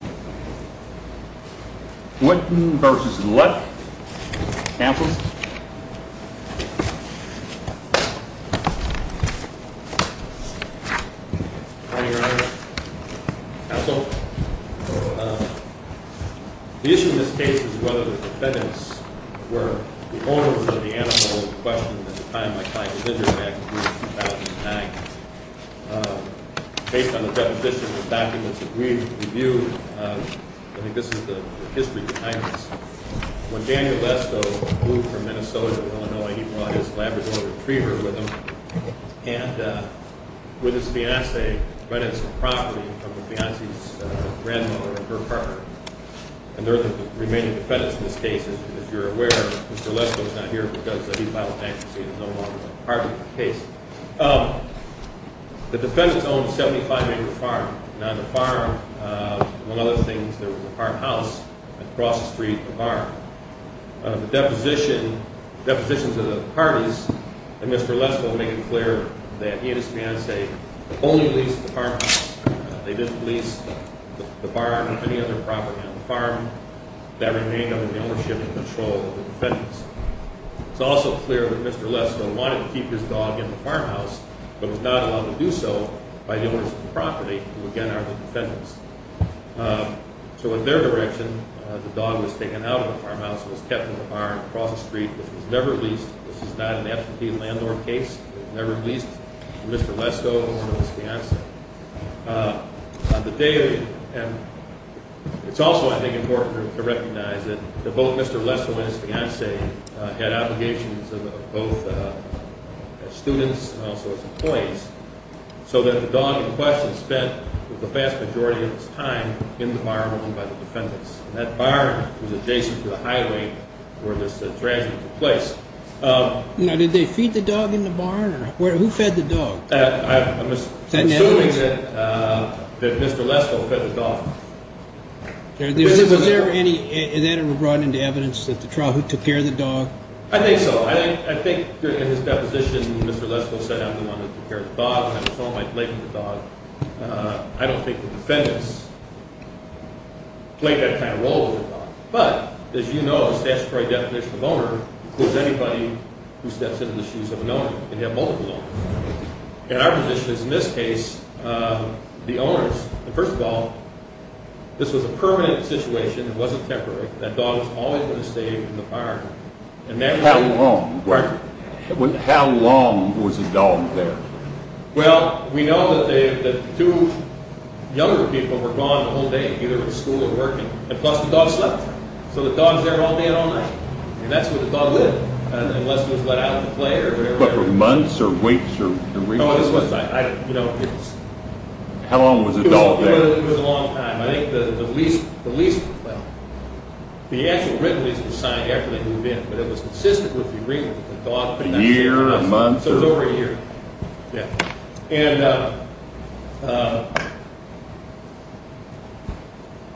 The issue in this case is whether the defendants were the owners of the animal questioned at the time my client was injured back in 2009. Based on the deposition and documents that we reviewed, I think this is the history behind this. When Daniel Lesto moved from Minnesota to Illinois, he brought his Labrador Retriever with him. And with his fiancée rented some property from the fiancée's grandmother and her partner. And they're the remaining defendants in this case. As you're aware, Mr. Lesto is not here because he filed bankruptcy and is no longer a part of the case. The defendants owned a 75-acre farm. And on the farm, one of the other things, there was a farmhouse across the street from the barn. The depositions of the parties and Mr. Lesto make it clear that he and his fiancée only leased the farmhouse. They didn't lease the barn or any other property on the farm. That remained under the ownership and control of the defendants. It's also clear that Mr. Lesto wanted to keep his dog in the farmhouse, but was not allowed to do so by the owners of the property, who again are the defendants. So in their direction, the dog was taken out of the farmhouse and was kept in the barn across the street, which was never leased. This is not an absentee landlord case. It was never leased to Mr. Lesto or his fiancée. It's also, I think, important to recognize that both Mr. Lesto and his fiancée had obligations, both as students and also as employees, so that the dog in question spent the vast majority of its time in the barn owned by the defendants. And that barn was adjacent to the highway where this tragedy took place. Now, did they feed the dog in the barn? Who fed the dog? I'm assuming that Mr. Lesto fed the dog. Was there any evidence brought into evidence that the trial who took care of the dog? I think so. I think in his deposition, Mr. Lesto said, I'm the one who took care of the dog. I'm the one who laid the dog. I don't think the defendants played that kind of role with the dog. But as you know, the statutory definition of owner includes anybody who steps into the shoes of an owner. And our position is, in this case, the owners. First of all, this was a permanent situation. It wasn't temporary. That dog was always going to stay in the barn. How long was the dog there? Well, we know that two younger people were gone the whole day, either at school or working. And plus, the dog slept. So the dog's there all day and all night. And that's where the dog lived, unless it was let out to play or whatever. But for months or weeks or weeks? No, it wasn't. How long was the dog there? It was a long time. I think the lease, well, the actual written lease was signed after they moved in. But it was consistent with the agreement with the dog. A year, a month? So it was over a year. And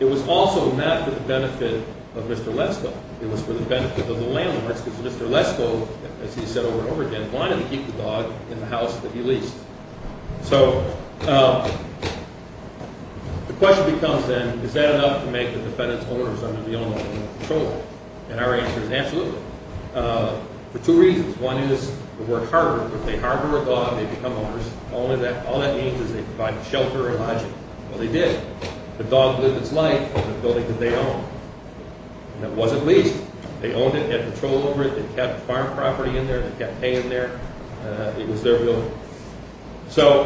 it was also not for the benefit of Mr. Lesto. It was for the benefit of the landlords. Because Mr. Lesto, as he said over and over again, wanted to keep the dog in the house that he leased. So the question becomes then, is that enough to make the defendants owners under the ownership of the patroller? And our answer is absolutely. For two reasons. One is the word harbor. If they harbor a dog, they become owners. All that means is they provide shelter or lodging. Well, they did. The dog lived its life in the building that they owned. And it wasn't leased. They owned it, had control over it. They kept farm property in there. They kept hay in there. It was their building. So,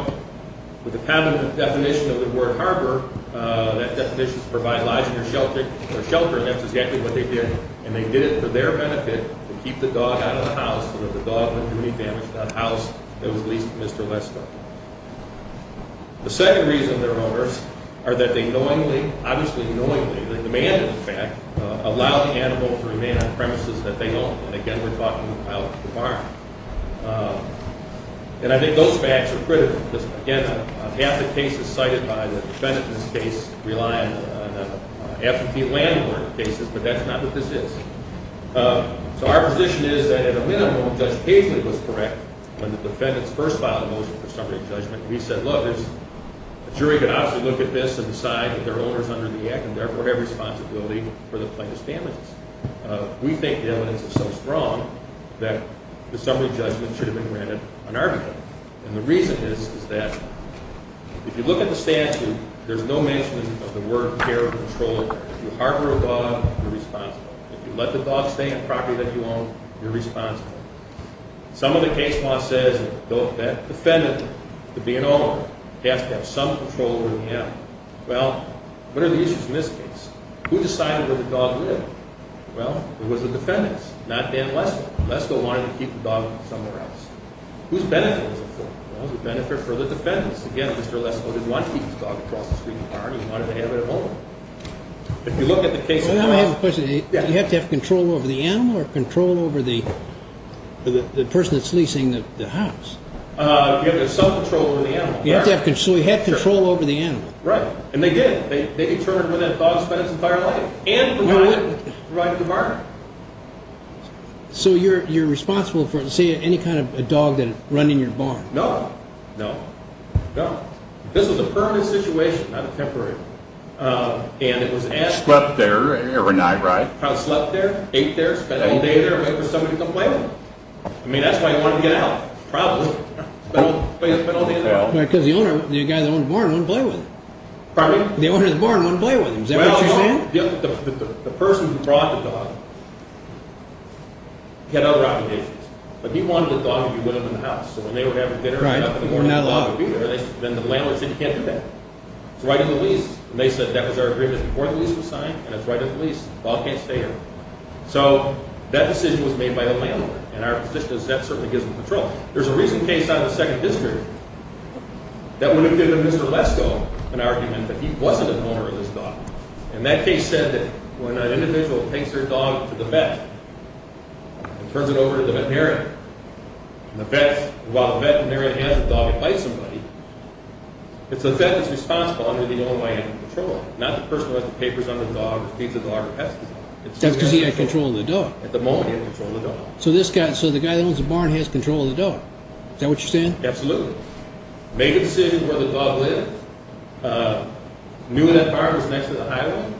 with the covenant definition of the word harbor, that definition is to provide lodging or shelter. And that's exactly what they did. And they did it for their benefit to keep the dog out of the house so that the dog wouldn't do any damage to that house that was leased to Mr. Lesto. The second reason they're owners are that they knowingly, obviously knowingly, they demanded the fact, allow the animal to remain on premises that they own. And again, we're talking about the farm. And I think those facts are critical. Because, again, half the cases cited by the defendant in this case rely on absentee landlord cases, but that's not what this is. So our position is that at a minimum, Judge Paisley was correct when the defendants first filed a motion for summary judgment. We said, look, a jury can obviously look at this and decide that their owner is under the act and therefore have responsibility for the plaintiff's damages. We think the evidence is so strong that the summary judgment should have been granted on our behalf. And the reason is that if you look at the statute, there's no mention of the word care or control. If you harbor a dog, you're responsible. If you let the dog stay on property that you own, you're responsible. Some of the case law says that defendant, to be an owner, has to have some control over the animal. Well, what are the issues in this case? Who decided where the dog lived? Well, it was the defendants, not Dan Lesto. Lesto wanted to keep the dog somewhere else. Whose benefit was it for? It was a benefit for the defendants. Again, Mr. Lesto didn't want to keep his dog across the street from the barn. He wanted to have it at home. If you look at the case law. I have a question. You have to have control over the animal or control over the person that's leasing the house? You have to have some control over the animal. So he had control over the animal. Right, and they did. They determined where that dog spent its entire life and provided the barn. So you're responsible for, say, any kind of dog that would run in your barn? No, no, no. This was a permanent situation, not a temporary one. And it was asked. Slept there every night, right? Slept there, ate there, spent all day there, waiting for somebody to come play with him. I mean, that's why he wanted to get out, probably. Spent all day in the barn. Because the owner, the guy that owned the barn, wouldn't play with him. Pardon me? The owner of the barn wouldn't play with him. Is that what you're saying? Well, the person who brought the dog had other obligations. But he wanted the dog to be with him in the house. So when they were having dinner up in the morning, the dog would be there. Then the landlord said, You can't do that. It's right in the lease. And they said, That was our agreement before the lease was signed, and it's right in the lease. The dog can't stay here. So that decision was made by the landlord. And our position is that certainly gives them control. There's a recent case out of the 2nd District that would have given Mr. Lesko an argument that he wasn't an owner of this dog. And that case said that when an individual takes their dog to the vet and turns it over to the vet parent, and the vet, while the veterinarian has the dog in place of somebody, it's the vet that's responsible under the OMIM control, not the person who has the papers on the dog, feeds the dog, or tests the dog. That's because he had control of the dog. At the moment, he had control of the dog. So this guy, so the guy that owns the barn has control of the dog. Is that what you're saying? Absolutely. Made a decision where the dog lived, knew that barn was next to the highway,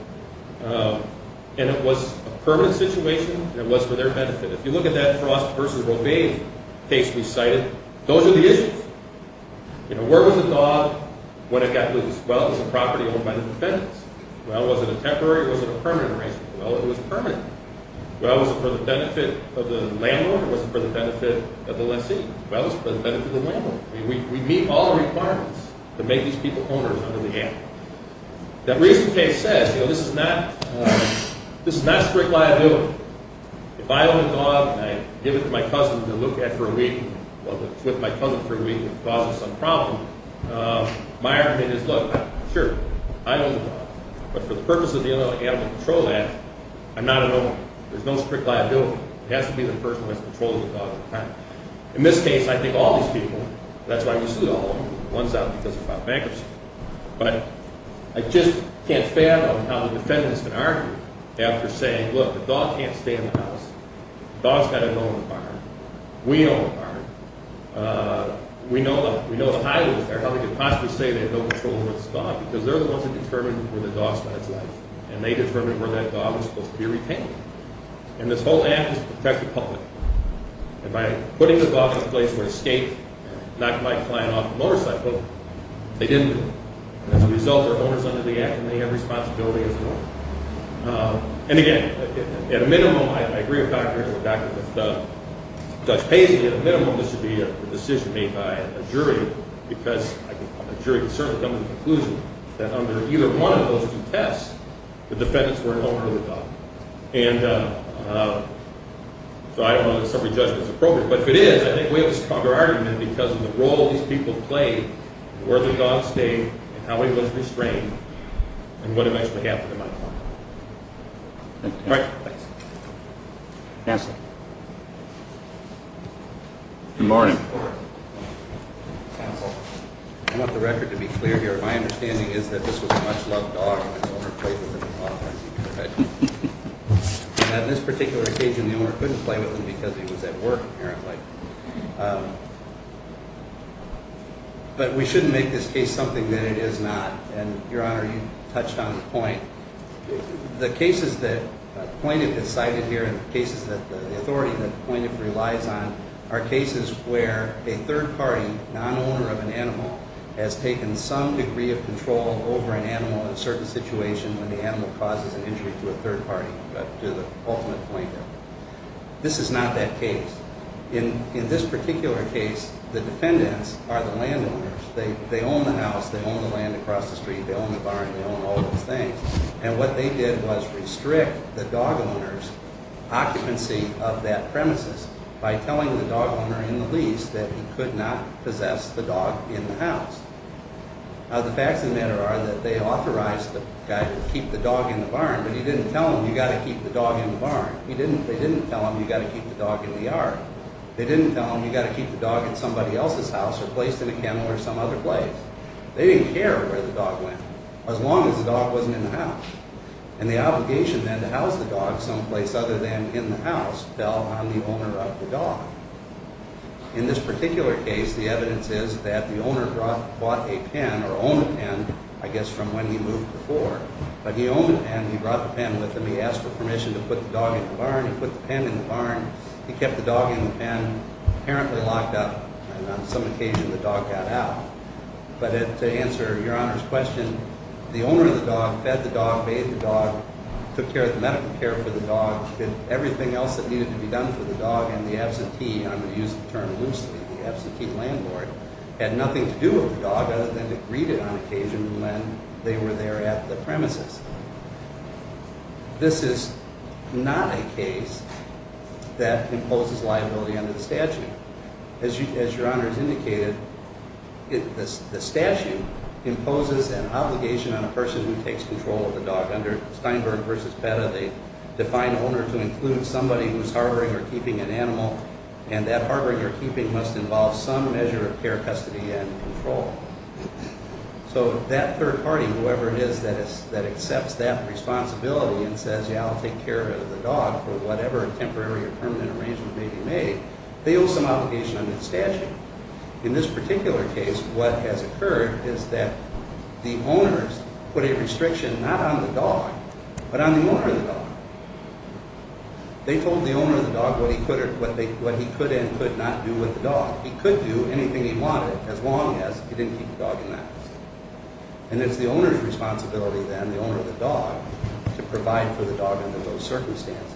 and it was a permanent situation, and it was for their benefit. If you look at that Frost versus Rovain case we cited, those are the issues. You know, where was the dog when it got loose? Well, it was a property owned by the defendants. Well, was it a temporary or was it a permanent arrangement? Well, it was permanent. Well, was it for the benefit of the landlord or was it for the benefit of the lessee? Well, it was for the benefit of the landlord. I mean, we meet all the requirements to make these people owners under the ant. That recent case says, you know, this is not strict liability. If I own a dog and I give it to my cousin to look at for a week, well, if it's with my cousin for a week and it causes some problem, my argument is, look, sure, I own the dog, but for the purpose of being able to control that, I'm not an owner. There's no strict liability. It has to be the person who has control of the dog all the time. In this case, I think all these people, that's why we sued all of them. One's out because of bankruptcy. But I just can't fathom how the defendants can argue after saying, look, the dog can't stay in the house. The dog's got to go on the farm. We own the farm. We know the highway is there. How can you possibly say they have no control over this dog? Because they're the ones who determined where the dog spent its life, and they determined where that dog was supposed to be retained. And this whole act was to protect the public. And by putting the dog in a place where it escaped, knocked my client off the motorcycle, they didn't do it. As a result, they're owners under the act, and they have responsibility as an owner. And, again, at a minimum, I agree with Dr. Ingle, and I agree with Judge Paisley, at a minimum this should be a decision made by a jury because a jury can certainly come to the conclusion that under either one of those two tests, the defendants were no longer the dog. And so I don't know that summary judgment is appropriate. But if it is, I think we have a stronger argument because of the role these people played in where the dog stayed and how he was restrained and what eventually happened to my client. All right. Counsel. Good morning. Counsel. I want the record to be clear here. My understanding is that this was a much-loved dog, and the owner played with it a lot. On this particular occasion, the owner couldn't play with him because he was at work, apparently. But we shouldn't make this case something that it is not. And, Your Honor, you touched on the point. The cases that Pointiff has cited here and the cases that the authority that Pointiff relies on are cases where a third party, non-owner of an animal, has taken some degree of control over an animal in a certain situation when the animal causes an injury to a third party, to the ultimate pointer. This is not that case. In this particular case, the defendants are the landowners. They own the house. They own the land across the street. They own the barn. They own all those things. And what they did was restrict the dog owner's occupancy of that premises by telling the dog owner in the lease that he could not possess the dog in the house. Now, the facts of the matter are that they authorized the guy to keep the dog in the barn, but they didn't tell him you've got to keep the dog in the yard. They didn't tell him you've got to keep the dog in somebody else's house or placed in a kennel or some other place. They didn't care where the dog went, as long as the dog wasn't in the house. And the obligation, then, to house the dog someplace other than in the house fell on the owner of the dog. In this particular case, the evidence is that the owner bought a pen, or owned a pen, I guess, from when he moved before. But he owned a pen. He brought the pen with him. He asked for permission to put the dog in the barn. He put the pen in the barn. He kept the dog in the pen, apparently locked up, and on some occasion the dog got out. But to answer Your Honor's question, the owner of the dog fed the dog, bathed the dog, took care of the medical care for the dog, did everything else that needed to be done for the dog in the absentee, and I'm going to use the term loosely, the absentee landlord, had nothing to do with the dog other than to greet it on occasion when they were there at the premises. This is not a case that imposes liability under the statute. As Your Honor has indicated, the statute imposes an obligation on a person who takes control of the dog. Under Steinberg v. Petta, they define owner to include somebody who is harboring or keeping an animal, and that harboring or keeping must involve some measure of care, custody, and control. So that third party, whoever it is that accepts that responsibility and says, yeah, I'll take care of the dog for whatever temporary or permanent arrangement may be made, they owe some obligation under the statute. In this particular case, what has occurred is that the owners put a restriction not on the dog, but on the owner of the dog. They told the owner of the dog what he could and could not do with the dog. He could do anything he wanted as long as he didn't keep the dog in that house. And it's the owner's responsibility then, the owner of the dog, to provide for the dog under those circumstances.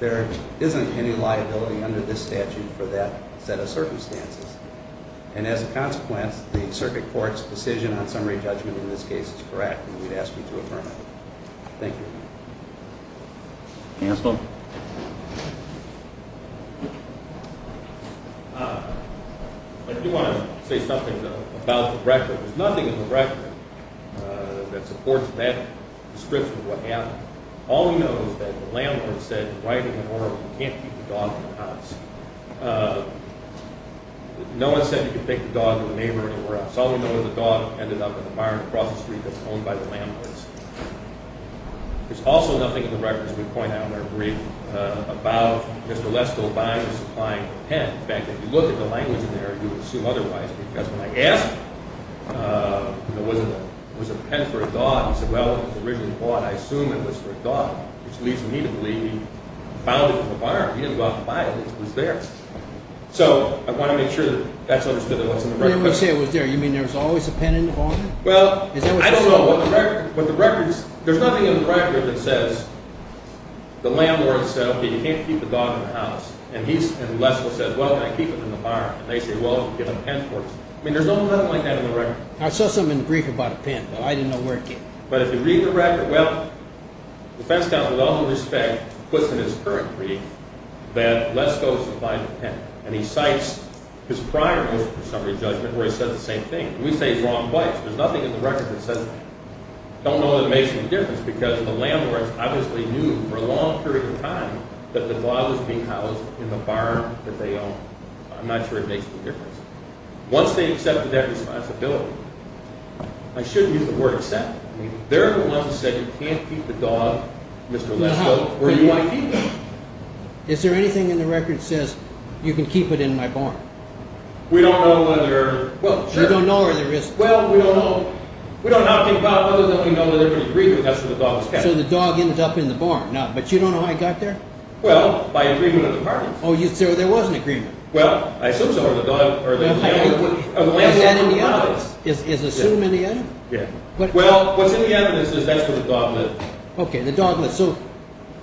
There isn't any liability under this statute for that set of circumstances. And as a consequence, the Circuit Court's decision on summary judgment in this case is correct, and we'd ask you to affirm it. Thank you. Counsel? I do want to say something, though, about the record. There's nothing in the record that supports that description of what happened. All we know is that the landlord said, writing in the order, you can't keep the dog in the house. No one said you could take the dog to a neighbor anywhere else. All we know is the dog ended up in the barn across the street that's owned by the landlords. There's also nothing in the record, as we point out in our brief, about Mr. Lester O'Brien supplying the pen. In fact, if you look at the language in there, you would assume otherwise, because when I asked if it was a pen for a dog, he said, well, it was originally bought, I assume it was for a dog, which leads me to believe he found it in the barn. He didn't go out and buy it. It was there. So I want to make sure that that's understood that it wasn't in the record. When you say it was there, you mean there was always a pen in the barn? Well, I don't know. Is that what you're saying? But the records, there's nothing in the record that says the landlord said, okay, you can't keep the dog in the house. And Lester said, well, can I keep him in the barn? And they said, well, give him a pen for it. I mean, there's nothing like that in the record. I saw something in the brief about a pen, but I didn't know where it came from. But if you read the record, well, the defense counsel, with all due respect, puts in his current brief that Lester O'Brien supplied the pen, and he cites his prior motion of summary judgment where he said the same thing. We say he's wrong twice. There's nothing in the record that says, don't know that it makes any difference, because the landlords obviously knew for a long period of time that the dog was being housed in the barn that they owned. I'm not sure it makes any difference. Once they accepted that responsibility, I shouldn't use the word accept. There are the ones that said you can't keep the dog, Mr. Lester, or you might keep it. Is there anything in the record that says you can keep it in my barn? We don't know whether. Well, sure. You don't know where the risk is. Well, we don't know. We don't know how to think about whether they can know that they're going to agree that that's where the dog was kept. So the dog ends up in the barn. But you don't know how he got there? Well, by agreement of the parties. Oh, so there was an agreement. Well, I assume so. Is that in the evidence? Is assume in the evidence? Yeah. Well, what's in the evidence is that's where the dog lived. Okay, the dog lived. So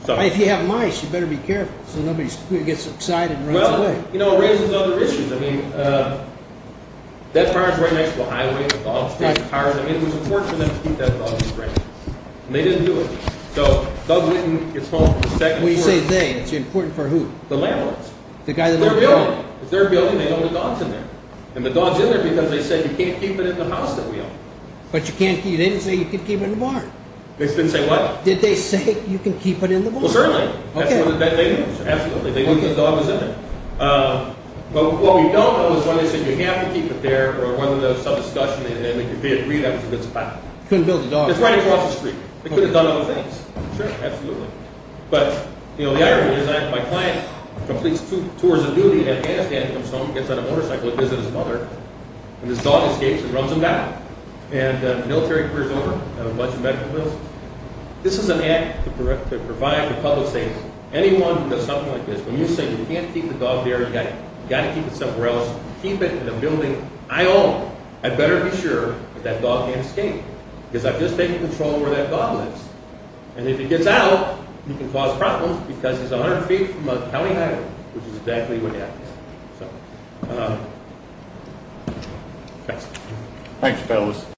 if you have mice, you better be careful so nobody gets excited and runs away. Well, you know, it raises other issues. I mean, that car is right next to a highway. The dog is chasing cars. I mean, it was important for them to keep that dog in the frame. And they didn't do it. So Doug Whitten gets home from the second floor. When you say they, it's important for who? The landlords. The guy that lived there? It's their building. It's their building. They don't have dogs in there. And the dog's in there because they said you can't keep it in the house that we own. But you can't keep it in the barn. They didn't say what? Did they say you can keep it in the barn? Well, certainly. That's what they knew. Absolutely. They knew the dog was in there. But what we don't know is whether they said you have to keep it there or whether there was some discussion and they agreed that was a good spot. Couldn't build a dog there. It's right across the street. They could have done other things. Sure. Absolutely. But, you know, the irony is my client completes two tours of duty in Afghanistan, comes home, gets on a motorcycle to visit his mother, and this dog escapes and runs him down. And the military career's over. I have a bunch of medical bills. This is an act to provide for public safety. Anyone who does something like this, when you say you can't keep the dog there, you've got to keep it somewhere else, keep it in the building I own, I'd better be sure that that dog can't escape because I've just taken control of where that dog lives. And if he gets out, you can cause problems because he's 100 feet from a county highway, which is exactly where he happens. So, thanks. Thanks, fellas.